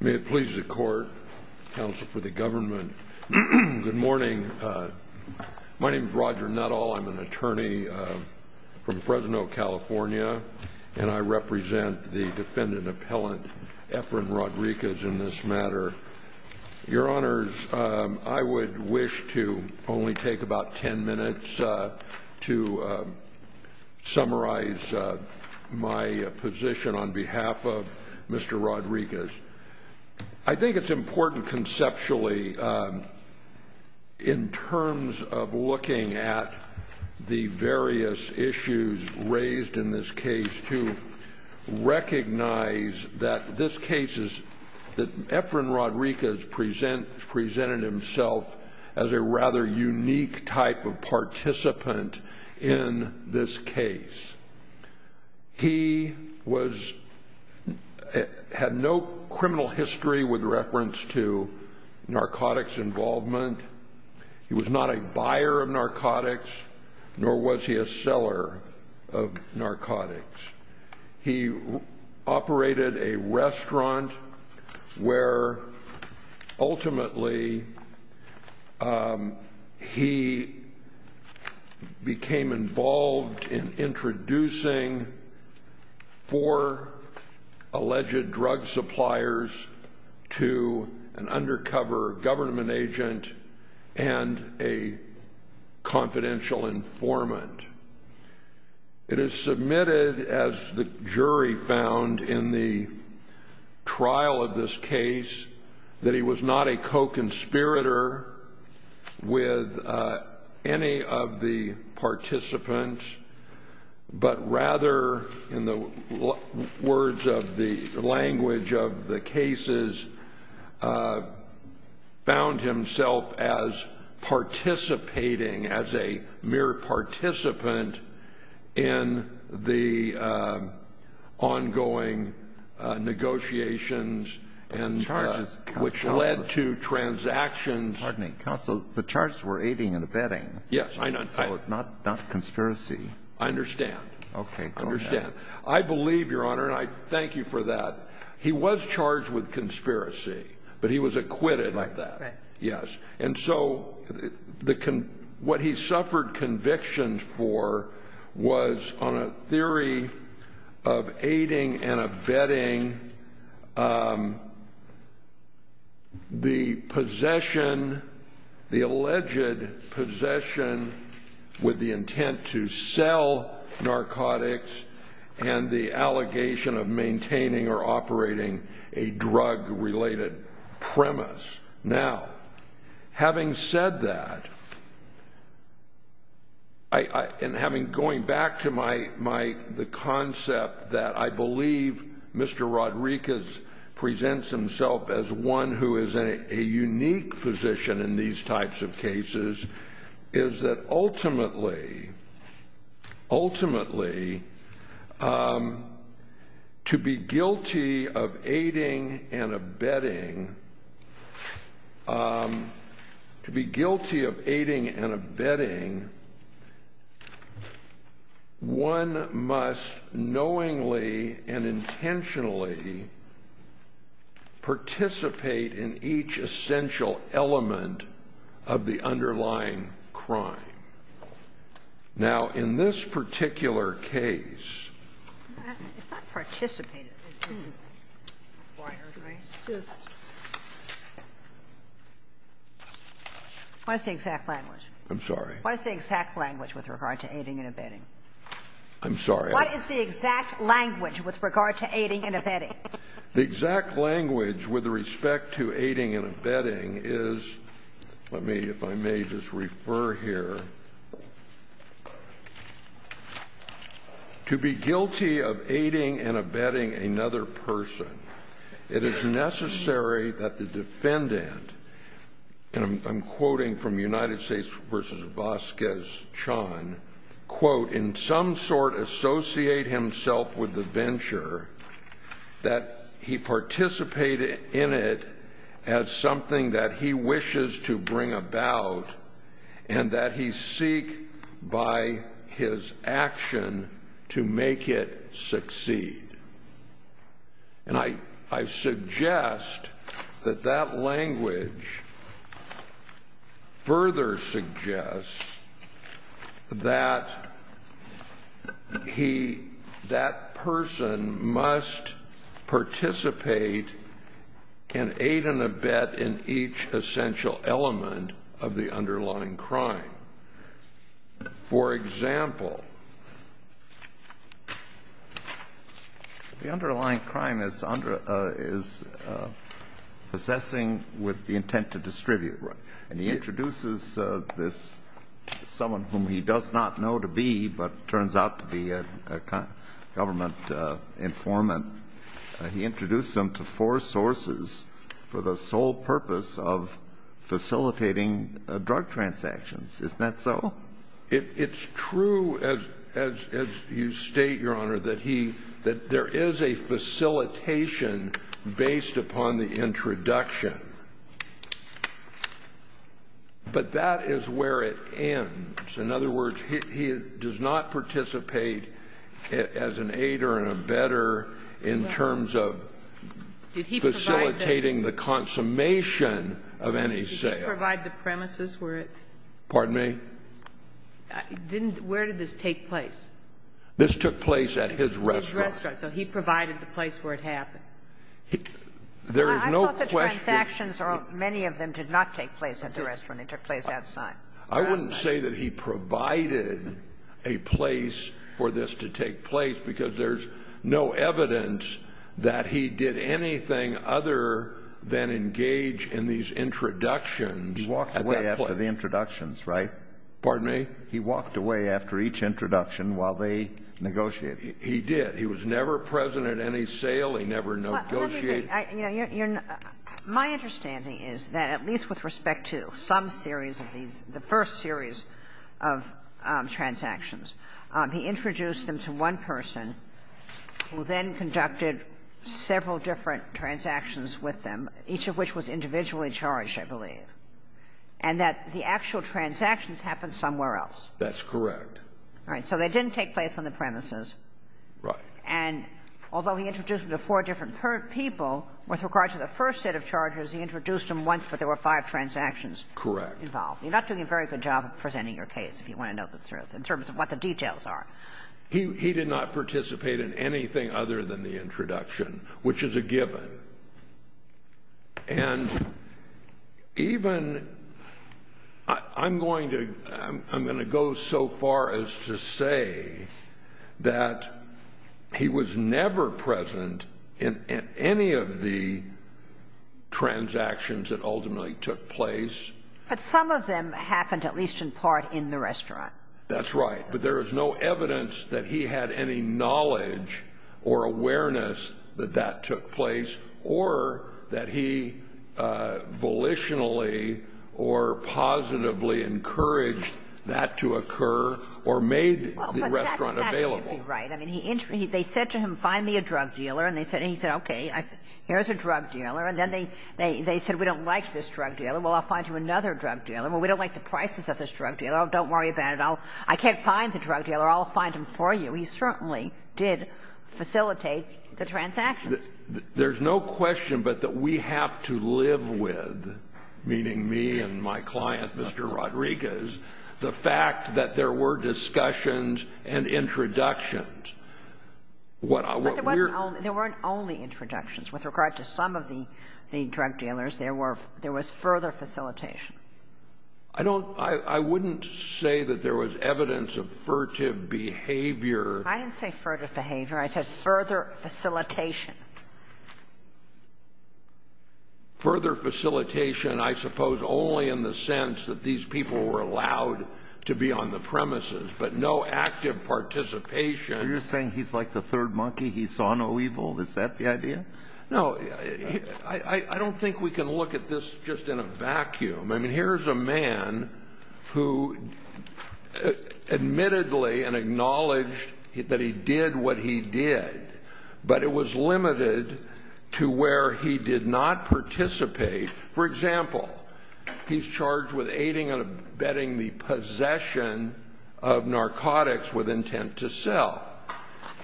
May it please the court, counsel for the government. Good morning. My name is Roger Nuttall. I'm an attorney from Fresno, California, and I represent the defendant appellant, Efren Rodriguez, in this matter. Your honors, I would wish to only take about 10 minutes to summarize my position on behalf of Mr. Rodriguez. I think it's important conceptually in terms of looking at the various issues raised in this case to recognize that this case is, that Efren Rodriguez presented himself as a rather unique type of participant in this case. He was, had no criminal history with reference to narcotics involvement. He was not a buyer of narcotics, nor was he a seller of narcotics. He operated a restaurant where ultimately he became involved in introducing four alleged drug suppliers to an undercover government agent and a confidential informant. It is submitted, as the jury found in the trial of this case, that he was not a co-conspirator with any of the participants, but rather, in the words of the language of the cases, found himself as participating, as a mere participant in the ongoing negotiations and charges which led to transactions. Pardon me, counsel. The charges were aiding and abetting. Yes, I know. Not conspiracy. I understand. I believe, Your Honor, and I thank you for that. He was charged with conspiracy, but he was acquitted of that. And so, what he suffered conviction for was on a theory of aiding and abetting the possession, the alleged possession with the intent to sell narcotics and the allegation of maintaining or operating a drug-related premise. Now, having said that, and going back to the concept that I believe Mr. Rodriguez presents himself as one who is in a unique position in these types of cases, is that ultimately, ultimately, to be guilty of aiding and abetting, to be guilty of aiding and abetting, one must knowingly and intentionally participate in each essential element of the underlying crime. Now, in this particular case What is the exact language? I'm sorry. What is the exact language with regard to aiding and abetting? The exact language with respect to aiding and abetting is, let me, if I may just refer here, to be guilty of aiding and abetting another person, it is necessary that the defendant, and I'm quoting from United States versus Vasquez-Chan, quote, in some sort associate himself with the venture that he participated in it as something that he wishes to bring about and that he seek by his action to make it succeed. And I suggest that that language further suggests that he, that person must participate in aid and abet in each essential element of the underlying crime. For example, the underlying crime is possessing with the intent to distribute. Right. And he introduces this, someone whom he does not know to be, but turns out to be a government informant. He introduced them to four sources for the sole purpose of facilitating drug transactions. Isn't that so? It's true, as you state, Your Honor, that he, that there is a facilitation based upon the introduction. But that is where it ends. In other words, he does not participate as an aider and abetter in terms of facilitating the consummation of any sale. Did he provide the premises where it? Pardon me? Where did this take place? This took place at his restaurant. His restaurant. So he provided the place where it happened. I thought the transactions, many of them, did not take place at the restaurant. It took place outside. I wouldn't say that he provided a place for this to take place because there's no evidence that he did anything other than engage in these introductions. He walked away after the introductions, right? Pardon me? He walked away after each introduction while they negotiated. He did. He was never present at any sale. He never negotiated. My understanding is that at least with respect to some series of these, the first series of transactions, he introduced them to one person who then conducted several different transactions with them, each of which was individually charged, I believe, and that the actual transactions happened somewhere else. That's correct. All right. So they didn't take place on the premises. Right. And although he introduced them to four different people, with regard to the first set of charges, he introduced them once, but there were five transactions involved. Correct. You're not doing a very good job of presenting your case, if you want to know the truth, in terms of what the details are. He did not participate in anything other than the introduction, which is a given. And even, I'm going to go so far as to say that he was never present in any of the transactions that ultimately took place. But some of them happened at least in part in the restaurant. That's right. But there was no evidence that he had any knowledge or awareness that that took place, or that he volitionally or positively encouraged that to occur, or made the restaurant available. Well, but that could be right. I mean, they said to him, find me a drug dealer, and he said, okay, here's a drug dealer. And then they said, we don't like this drug dealer. Well, I'll find you another drug dealer. Well, we don't like the prices of this drug dealer. Oh, don't worry about it. Well, I can't find the drug dealer. I'll find him for you. He certainly did facilitate the transactions. There's no question but that we have to live with, meaning me and my client, Mr. Rodriguez, the fact that there were discussions and introductions. But there weren't only introductions. With regard to some of the drug dealers, there was further facilitation. I wouldn't say that there was evidence of furtive behavior. I didn't say furtive behavior. I said further facilitation. Further facilitation, I suppose, only in the sense that these people were allowed to be on the premises, but no active participation. You're saying he's like the third monkey? He saw no evil? Is that the idea? No. I don't think we can look at this just in a vacuum. I mean, here's a man who admittedly and acknowledged that he did what he did, but it was limited to where he did not participate. For example, he's charged with aiding and abetting the possession of narcotics with intent to sell.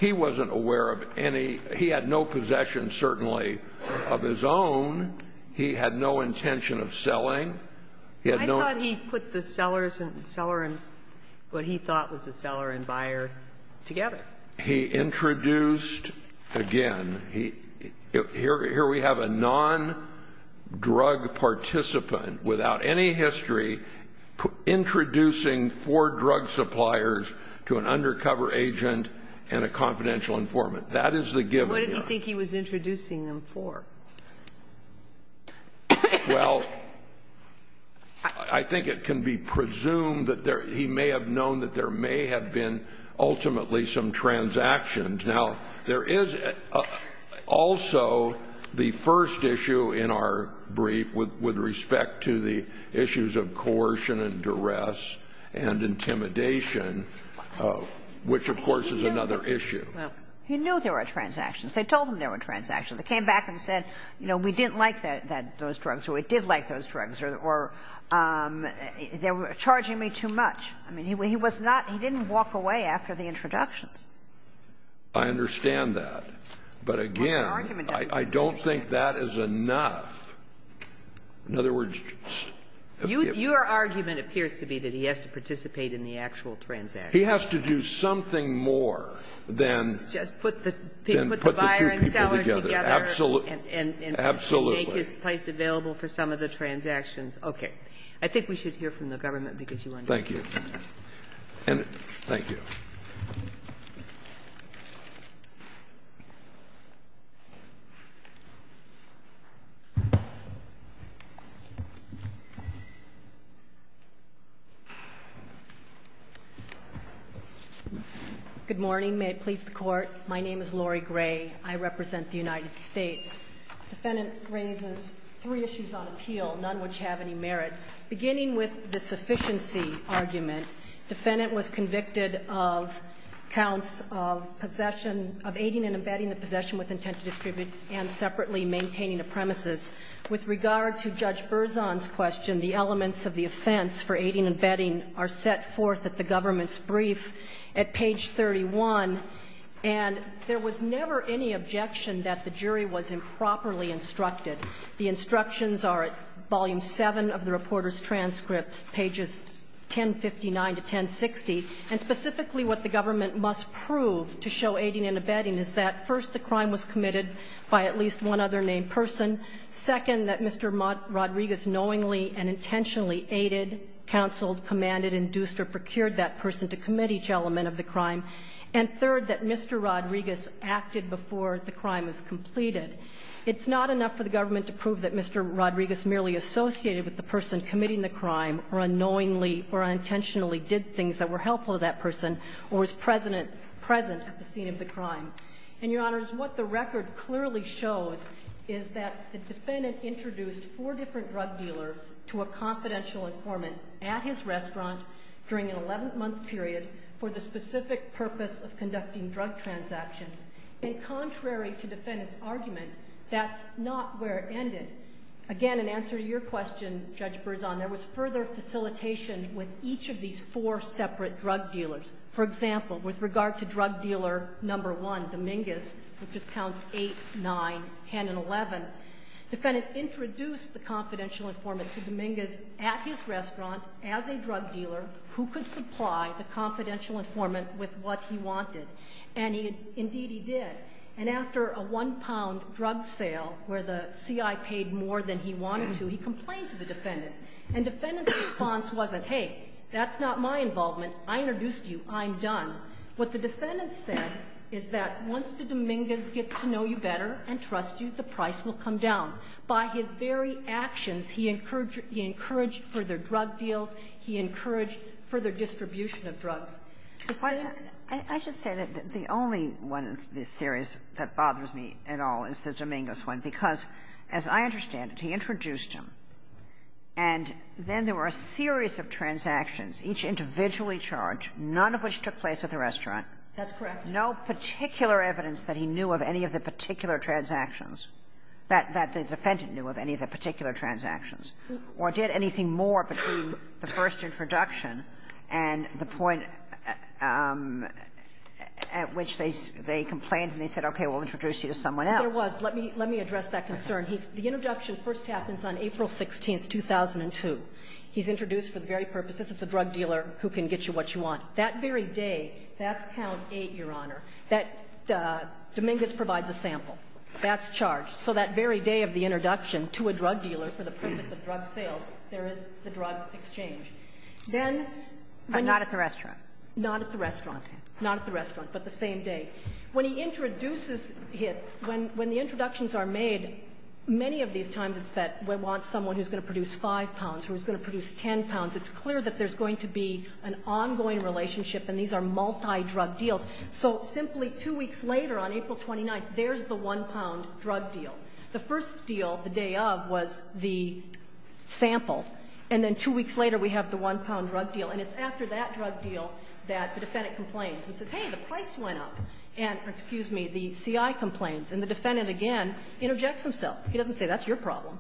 He wasn't aware of any. He had no possession, certainly, of his own. He had no intention of selling. He had no ---- I thought he put the seller and what he thought was the seller and buyer together. He introduced, again, here we have a non-drug participant without any history introducing four drug suppliers to an undercover agent and a confidential informant. That is the given. What did he think he was introducing them for? Well, I think it can be presumed that he may have known that there may have been ultimately some transactions. Now, there is also the first issue in our brief with respect to the issues of coercion and duress and intimidation, which, of course, is another issue. He knew there were transactions. They told him there were transactions. They came back and said, you know, we didn't like those drugs or we did like those drugs or they were charging me too much. I mean, he was not he didn't walk away after the introduction. I understand that. But, again, I don't think that is enough. In other words ---- Your argument appears to be that he has to participate in the actual transaction. He has to do something more than ---- Just put the buyer and seller together. Absolutely. Absolutely. And make his place available for some of the transactions. Okay. I think we should hear from the government because you want to ---- Thank you. Thank you. Good morning. May it please the Court. My name is Lori Gray. I represent the United States. The defendant raises three issues on appeal, none which have any merit. Beginning with the sufficiency argument, defendant was convicted of counts of possession of aiding and abetting the possession with intent to distribute and separately maintaining a premises. With regard to Judge Berzon's question, the elements of the offense for aiding and The instructions are at volume 7 of the reporter's transcripts, pages 1059 to 1060, and specifically what the government must prove to show aiding and abetting is that, first, the crime was committed by at least one other named person. Second, that Mr. Rodriguez knowingly and intentionally aided, counseled, commanded, induced or procured that person to commit each element of the crime. And third, that Mr. Rodriguez acted before the crime was completed. It's not enough for the government to prove that Mr. Rodriguez merely associated with the person committing the crime or unknowingly or unintentionally did things that were helpful to that person or was present at the scene of the crime. And, Your Honors, what the record clearly shows is that the defendant introduced four different drug dealers to a confidential informant at his restaurant during an drug transactions. And contrary to the defendant's argument, that's not where it ended. Again, in answer to your question, Judge Berzon, there was further facilitation with each of these four separate drug dealers. For example, with regard to drug dealer number one, Dominguez, which is counts 8, 9, 10, and 11, the defendant introduced the confidential informant to Dominguez at his restaurant as a drug dealer who could supply the confidential informant with what he wanted. And indeed he did. And after a one-pound drug sale where the C.I. paid more than he wanted to, he complained to the defendant. And the defendant's response wasn't, hey, that's not my involvement. I introduced you. I'm done. What the defendant said is that once the Dominguez gets to know you better and trust you, the price will come down. By his very actions, he encouraged further drug deals. He encouraged further distribution of drugs. Kagan. I should say that the only one in this series that bothers me at all is the Dominguez one, because as I understand it, he introduced him, and then there were a series of transactions, each individually charged, none of which took place at the restaurant. That's correct. No particular evidence that he knew of any of the particular transactions that the defendant knew of any of the particular transactions, or did anything more between the first introduction and the point at which they complained and they said, okay, we'll introduce you to someone else. There was. Let me address that concern. The introduction first happens on April 16th, 2002. He's introduced for the very purpose, this is a drug dealer who can get you what you want. That very day, that's count eight, Your Honor, that Dominguez provides a sample. That's charged. So that very day of the introduction to a drug dealer for the purpose of drug sales, there is the drug exchange. Then when he's Not at the restaurant. Not at the restaurant. Not at the restaurant, but the same day. When he introduces him, when the introductions are made, many of these times it's that he wants someone who's going to produce 5 pounds, who's going to produce 10 pounds. It's clear that there's going to be an ongoing relationship, and these are multidrug deals. So simply two weeks later on April 29th, there's the 1-pound drug deal. The first deal, the day of, was the sample, and then two weeks later we have the 1-pound drug deal, and it's after that drug deal that the defendant complains and says, hey, the price went up. And, excuse me, the CI complains, and the defendant again interjects himself. He doesn't say, that's your problem.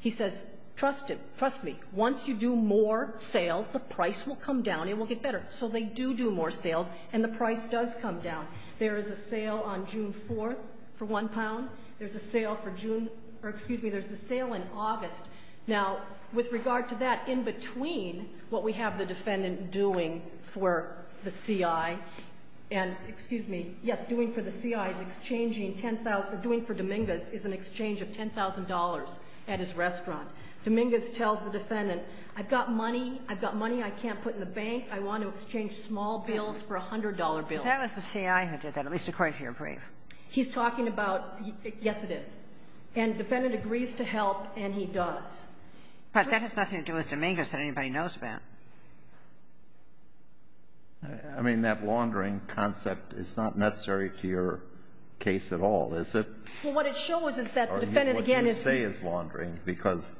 He says, trust him. Trust me. Once you do more sales, the price will come down and it will get better. So they do do more sales, and the price does come down. There is a sale on June 4th for 1 pound. There's a sale for June, or excuse me, there's the sale in August. Now, with regard to that, in between what we have the defendant doing for the CI, and, excuse me, yes, doing for the CI is exchanging 10,000, or doing for Dominguez is an exchange of $10,000 at his restaurant. Dominguez tells the defendant, I've got money. I've got money I can't put in the bank. I want to exchange small bills for $100 bills. But that was the CI who did that, at least according to your brief. He's talking about, yes, it is. And the defendant agrees to help, and he does. But that has nothing to do with Dominguez that anybody knows about. I mean, that laundering concept is not necessary to your case at all, is it? Well, what it shows is that the defendant, again, is using the ---- Or what you say is laundering, because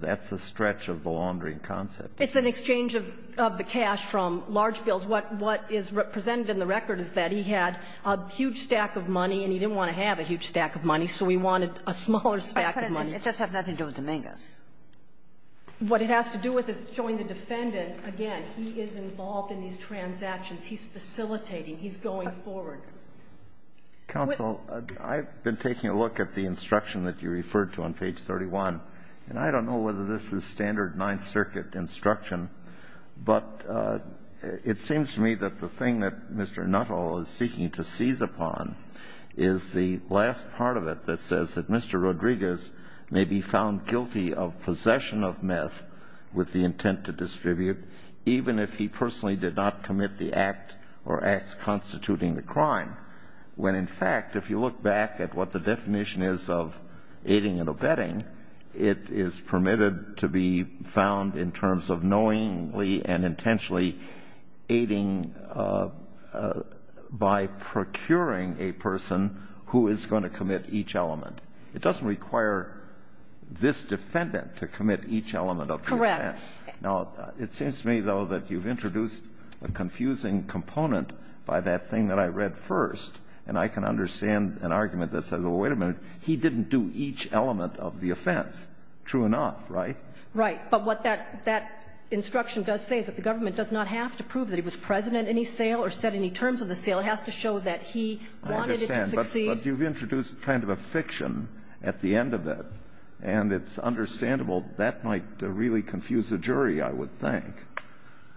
that's a stretch of the laundering concept. It's an exchange of the cash from large bills. What is presented in the record is that he had a huge stack of money, and he didn't want to have a huge stack of money, so he wanted a smaller stack of money. It doesn't have nothing to do with Dominguez. What it has to do with is showing the defendant, again, he is involved in these transactions. He's facilitating. He's going forward. Counsel, I've been taking a look at the instruction that you referred to on page 31, and I don't know whether this is standard Ninth Circuit instruction, but it seems to me that the thing that Mr. Nuttall is seeking to seize upon is the last part of it that says that Mr. Rodriguez may be found guilty of possession of meth with the intent to distribute, even if he personally did not commit the act or acts constituting the crime, when, in fact, if you look back at what the definition is of aiding and abetting, it is permitted to be found in terms of knowingly and intentionally aiding by procuring a person who is going to commit each element. It doesn't require this defendant to commit each element of the act. Correct. Now, it seems to me, though, that you've introduced a confusing component by that thing that I read first, and I can understand an argument that says, well, wait a minute, he didn't do each element of the offense. True enough, right? Right. But what that instruction does say is that the government does not have to prove that he was present at any sale or said any terms of the sale. It has to show that he wanted it to succeed. I understand. But you've introduced kind of a fiction at the end of it, and it's understandable that might really confuse the jury, I would think.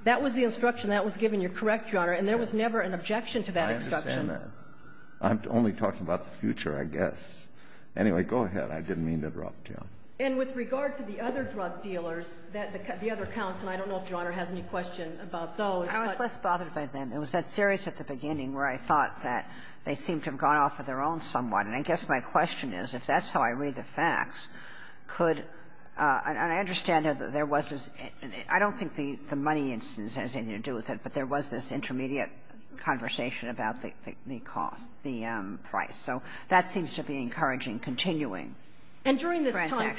That was the instruction that was given. You're correct, Your Honor. And there was never an objection to that instruction. I understand that. I'm only talking about the future, I guess. Anyway, go ahead. I didn't mean to interrupt you. And with regard to the other drug dealers, the other counts, and I don't know if Your Honor has any question about those. I was less bothered by them. It was that series at the beginning where I thought that they seemed to have gone off on their own somewhat. And I guess my question is, if that's how I read the facts, could — and I understand that there was this — I don't think the money instance has anything to do with it, but there was this intermediate conversation about the cost, the price. So that seems to be encouraging continuing transactions. And during this time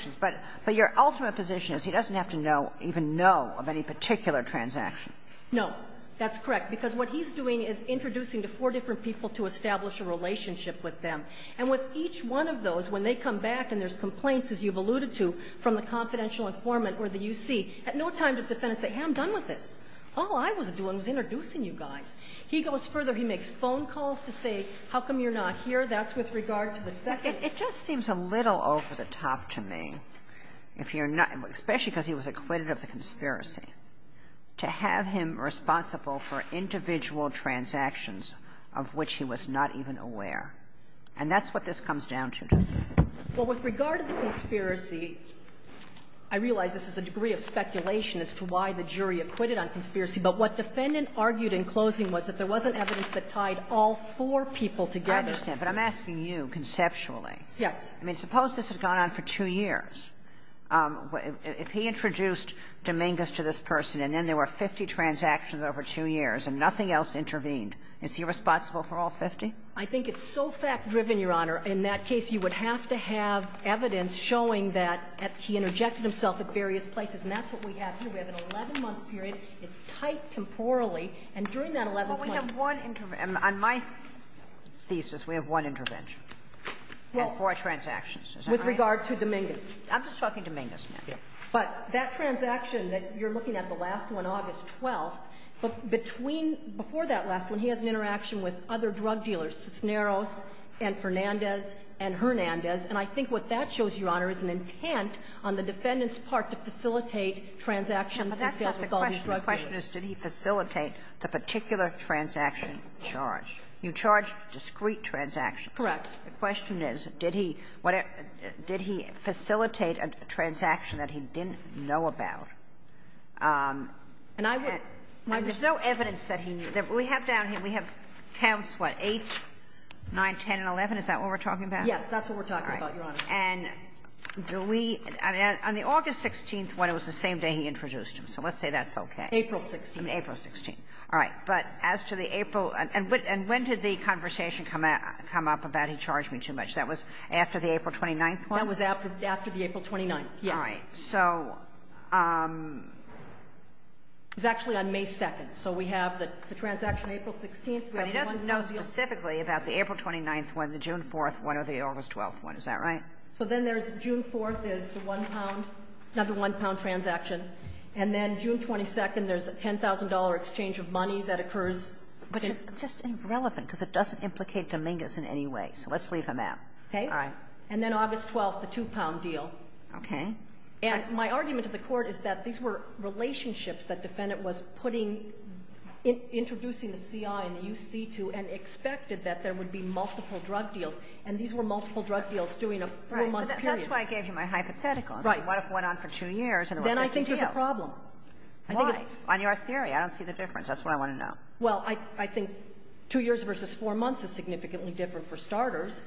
— But your ultimate position is he doesn't have to know, even know, of any particular transaction. No. That's correct, because what he's doing is introducing to four different people to establish a relationship with them. And with each one of those, when they come back and there's complaints, as you've alluded to, from the confidential informant or the U.C., at no time does the defendant say, hey, I'm done with this. All I was doing was introducing you guys. He goes further. He makes phone calls to say, how come you're not here? That's with regard to the second. It just seems a little over the top to me, if you're not — especially because he was acquitted of the conspiracy, to have him responsible for individual transactions of which he was not even aware. And that's what this comes down to, doesn't it? Well, with regard to the conspiracy, I realize this is a degree of speculation as to why the jury acquitted on conspiracy, but what defendant argued in closing was that there wasn't evidence that tied all four people together. I understand, but I'm asking you conceptually. Yes. I mean, suppose this had gone on for two years. If he introduced Dominguez to this person and then there were 50 transactions over two years and nothing else intervened, is he responsible for all 50? I think it's so fact-driven, Your Honor. In that case, you would have to have evidence showing that he interjected himself at various places. And that's what we have here. We have an 11-month period. It's tight temporally. And during that 11 months — Well, we have one — on my thesis, we have one intervention. Yes. Of four transactions. Is that right? With regard to Dominguez. I'm just talking Dominguez now. Yes. But that transaction that you're looking at, the last one, August 12th, between — before that last one, he has an interaction with other drug dealers, Cisneros and Fernandez and Hernandez. And I think what that shows, Your Honor, is an intent on the defendant's part to facilitate transactions in sales with all these drug dealers. But that's not the question. The question is, did he facilitate the particular transaction charged? You charge discrete transactions. Correct. The question is, did he facilitate a transaction that he didn't know about? And I would — And there's no evidence that he knew. We have down here, we have counts, what, 8, 9, 10, and 11. Is that what we're talking about? Yes, that's what we're talking about, Your Honor. All right. And do we — on the August 16th one, it was the same day he introduced him. So let's say that's okay. April 16th. April 16th. All right. But as to the April — and when did the conversation come up about he charged me too much? That was after the April 29th one? That was after the April 29th, yes. All right. So — It was actually on May 2nd. So we have the transaction April 16th. But he doesn't know specifically about the April 29th one, the June 4th one, or the August 12th one. Is that right? So then there's June 4th is the one-pound — not the one-pound transaction. And then June 22nd, there's a $10,000 exchange of money that occurs. But it's just irrelevant, because it doesn't implicate Dominguez in any way. So let's leave him out. Okay? All right. And then August 12th, the two-pound deal. Okay. And my argument to the Court is that these were relationships that defendant was putting — introducing the CI and the UC to and expected that there would be multiple drug deals, and these were multiple drug deals during a four-month period. Right. But that's why I gave you my hypothetical. Right. What if it went on for two years and it was a big deal? Then I think there's a problem. Why? On your theory, I don't see the difference. That's what I want to know. Well, I think two years versus four months is significantly different for starters.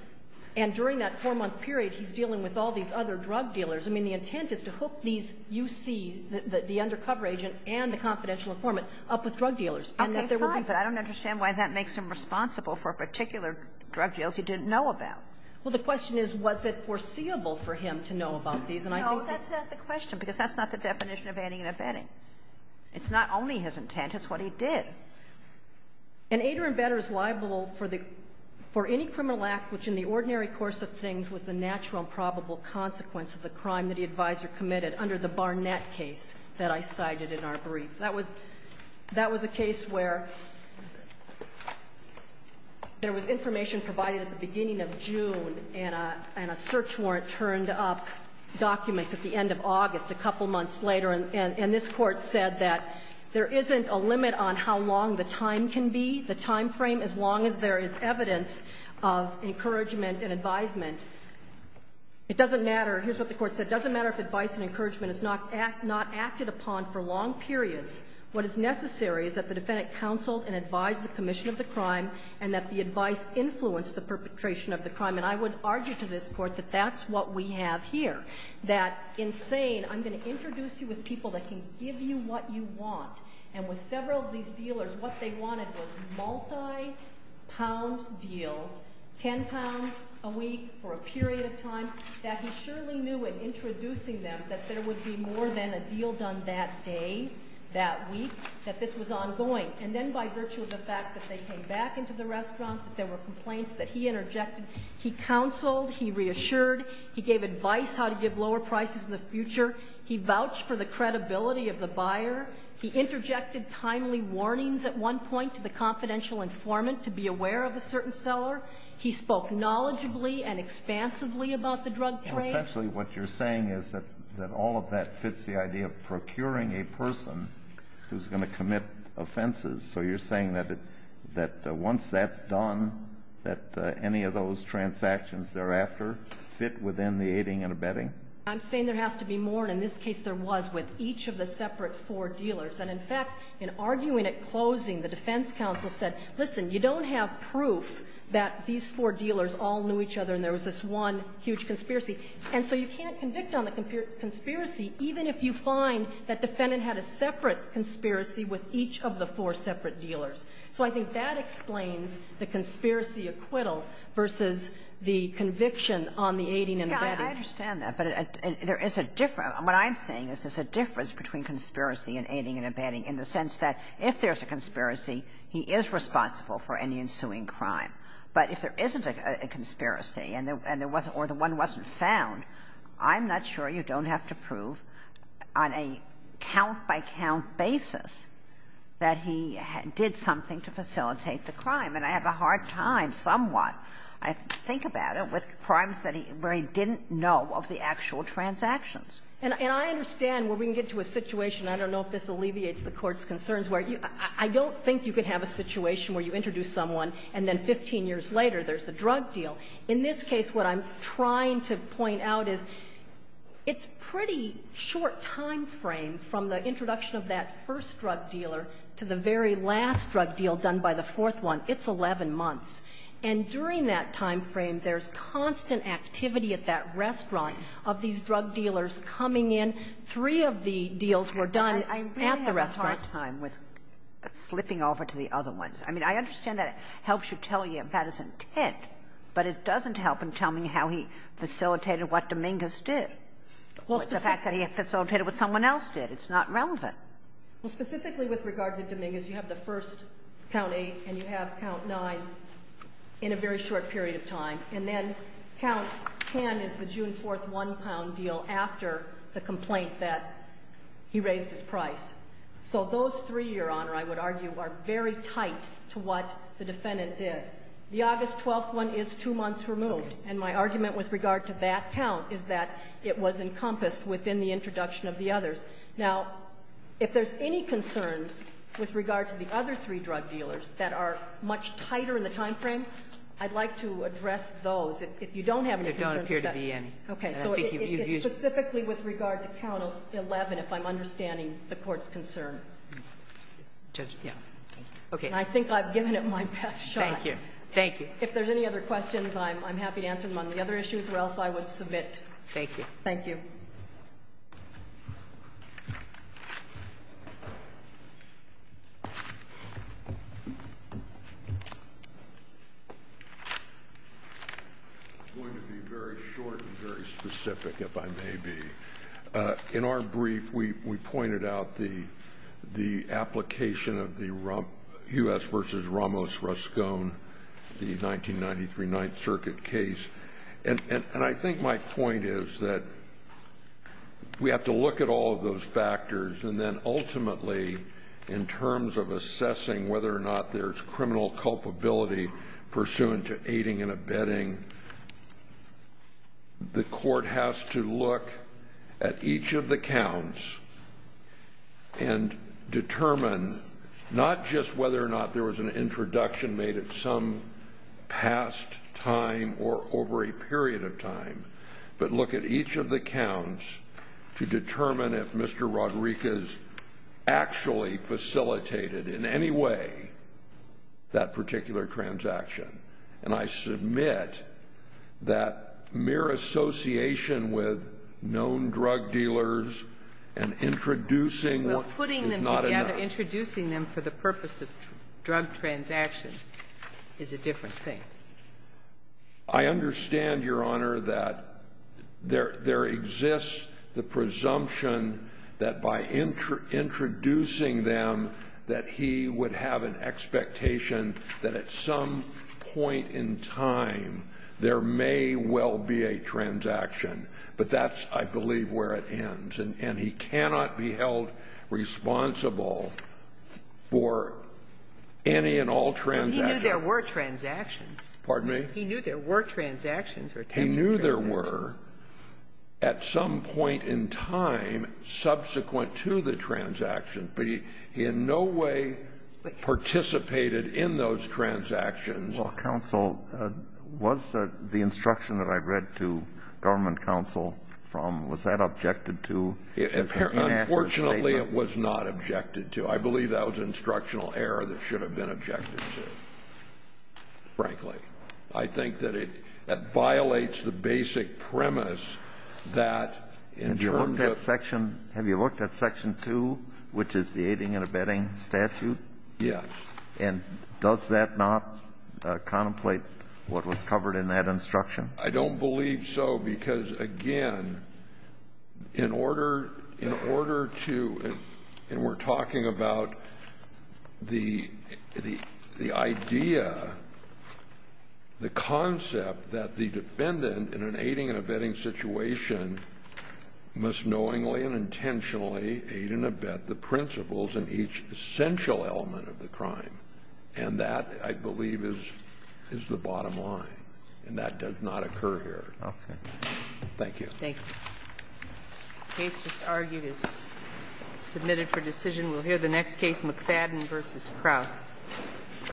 And during that four-month period, he's dealing with all these other drug dealers. I mean, the intent is to hook these UCs, the undercover agent and the confidential informant, up with drug dealers, and that there would be — Okay. Fine. But I don't understand why that makes him responsible for particular drug deals he didn't know about. Well, the question is, was it foreseeable for him to know about these? And I think that — No, that's not the question, because that's not the definition of aiding and abetting. It's not only his intent. It's what he did. An aider and abetter is liable for the — for any criminal act which in the ordinary course of things was the natural and probable consequence of the crime that the advisor committed under the Barnett case that I cited in our brief. That was — that was a case where there was information provided at the beginning of June and a — and a search warrant turned up documents at the end of August a couple months later. And this Court said that there isn't a limit on how long the time can be, the timeframe, as long as there is evidence of encouragement and advisement. It doesn't matter. Here's what the Court said. It doesn't matter if advice and encouragement is not acted upon for long periods. What is necessary is that the defendant counseled and advised the commission of the crime and that the advice influenced the perpetration of the crime. And I would argue to this Court that that's what we have here, that in saying I'm going to introduce you with people that can give you what you want, and with several of these dealers, what they wanted was multi-pound deals, 10 pounds a week for a period of time, that he surely knew in introducing them that there would be more than a deal done that day, that week, that this was ongoing. And then by virtue of the fact that they came back into the restaurant, that there were complaints that he interjected, he counseled, he reassured, he gave advice how to give lower prices in the future, he vouched for the credibility of the buyer, he issued warnings at one point to the confidential informant to be aware of a certain seller, he spoke knowledgeably and expansively about the drug trade. And essentially what you're saying is that all of that fits the idea of procuring a person who's going to commit offenses, so you're saying that once that's done, that any of those transactions thereafter fit within the aiding and abetting? I'm saying there has to be more, and in this case there was, with each of the separate four dealers, and in fact, in arguing at closing, the defense counsel said, listen, you don't have proof that these four dealers all knew each other and there was this one huge conspiracy, and so you can't convict on the conspiracy, even if you find that defendant had a separate conspiracy with each of the four separate dealers. So I think that explains the conspiracy acquittal versus the conviction on the aiding and abetting. I understand that, but there is a difference. What I'm saying is there's a difference between conspiracy and aiding and abetting in the sense that if there's a conspiracy, he is responsible for any ensuing crime. But if there isn't a conspiracy and there wasn't or the one wasn't found, I'm not sure you don't have to prove on a count-by-count basis that he did something to facilitate the crime, and I have a hard time somewhat, I think about it, with the fact that he didn't know of the actual transactions. And I understand where we can get to a situation, I don't know if this alleviates the Court's concerns, where I don't think you can have a situation where you introduce someone and then 15 years later there's a drug deal. In this case, what I'm trying to point out is it's a pretty short time frame from the introduction of that first drug dealer to the very last drug deal done by the fourth one. It's 11 months. And during that time frame, there's constant activity at that restaurant of these drug dealers coming in. Three of the deals were done at the restaurant. Kagan. I really have a hard time with slipping over to the other ones. I mean, I understand that it helps you tell you if that is intent, but it doesn't help in telling me how he facilitated what Dominguez did or the fact that he facilitated what someone else did. It's not relevant. Well, specifically with regard to Dominguez, you have the first count eight and you have the second count 10 in a very short period of time, and then count 10 is the June 4th one-pound deal after the complaint that he raised his price. So those three, Your Honor, I would argue are very tight to what the defendant did. The August 12th one is two months removed, and my argument with regard to that count is that it was encompassed within the introduction of the others. Now, if there's any concerns with regard to the other three drug dealers that are much tighter in the time frame, I'd like to address those. If you don't have any concerns with that one. It don't appear to be any. Okay. So it's specifically with regard to count 11, if I'm understanding the Court's concern. Judge, yes. Okay. And I think I've given it my best shot. Thank you. Thank you. If there's any other questions, I'm happy to answer them on the other issues, or else I would submit. Thank you. Thank you. I'm going to be very short and very specific, if I may be. In our brief, we pointed out the application of the U.S. v. Ramos-Ruskone, the 1993 Ninth Circuit case, and I think my point is that we have to look at all of those factors, and then ultimately, in terms of assessing whether or not there's criminal culpability pursuant to aiding and abetting, the Court has to look at each of the counts and determine not just whether or not there was an introduction made at some past time or over a period of time, but look at each of the counts to determine if Mr. Rodriquez actually facilitated in any way that particular transaction. And I submit that mere association with known drug dealers and introducing what is not enough. Well, putting them together, introducing them for the purpose of drug transactions is a different thing. I understand, Your Honor, that there exists the presumption that by introducing them that he would have an expectation that at some point in time there may well be a transaction, but that's, I believe, where it ends. And he cannot be held responsible for any and all transactions. And he knew there were transactions. Pardon me? He knew there were transactions. He knew there were at some point in time subsequent to the transaction, but he in no way participated in those transactions. Well, counsel, was the instruction that I read to government counsel from, was that objected to as an inaccurate statement? Unfortunately, it was not objected to. I believe that was an instructional error that should have been objected to. Frankly, I think that it violates the basic premise that in terms of the law. Have you looked at Section 2, which is the aiding and abetting statute? Yes. And does that not contemplate what was covered in that instruction? I don't believe so, because, again, in order to, and we're talking about the idea, the concept that the defendant in an aiding and abetting situation must knowingly and intentionally aid and abet the principles in each essential element of the crime. And that, I believe, is the bottom line. And that does not occur here. Okay. Thank you. Thank you. The case just argued is submitted for decision. We'll hear the next case, McFadden v. Krauss. Thank you.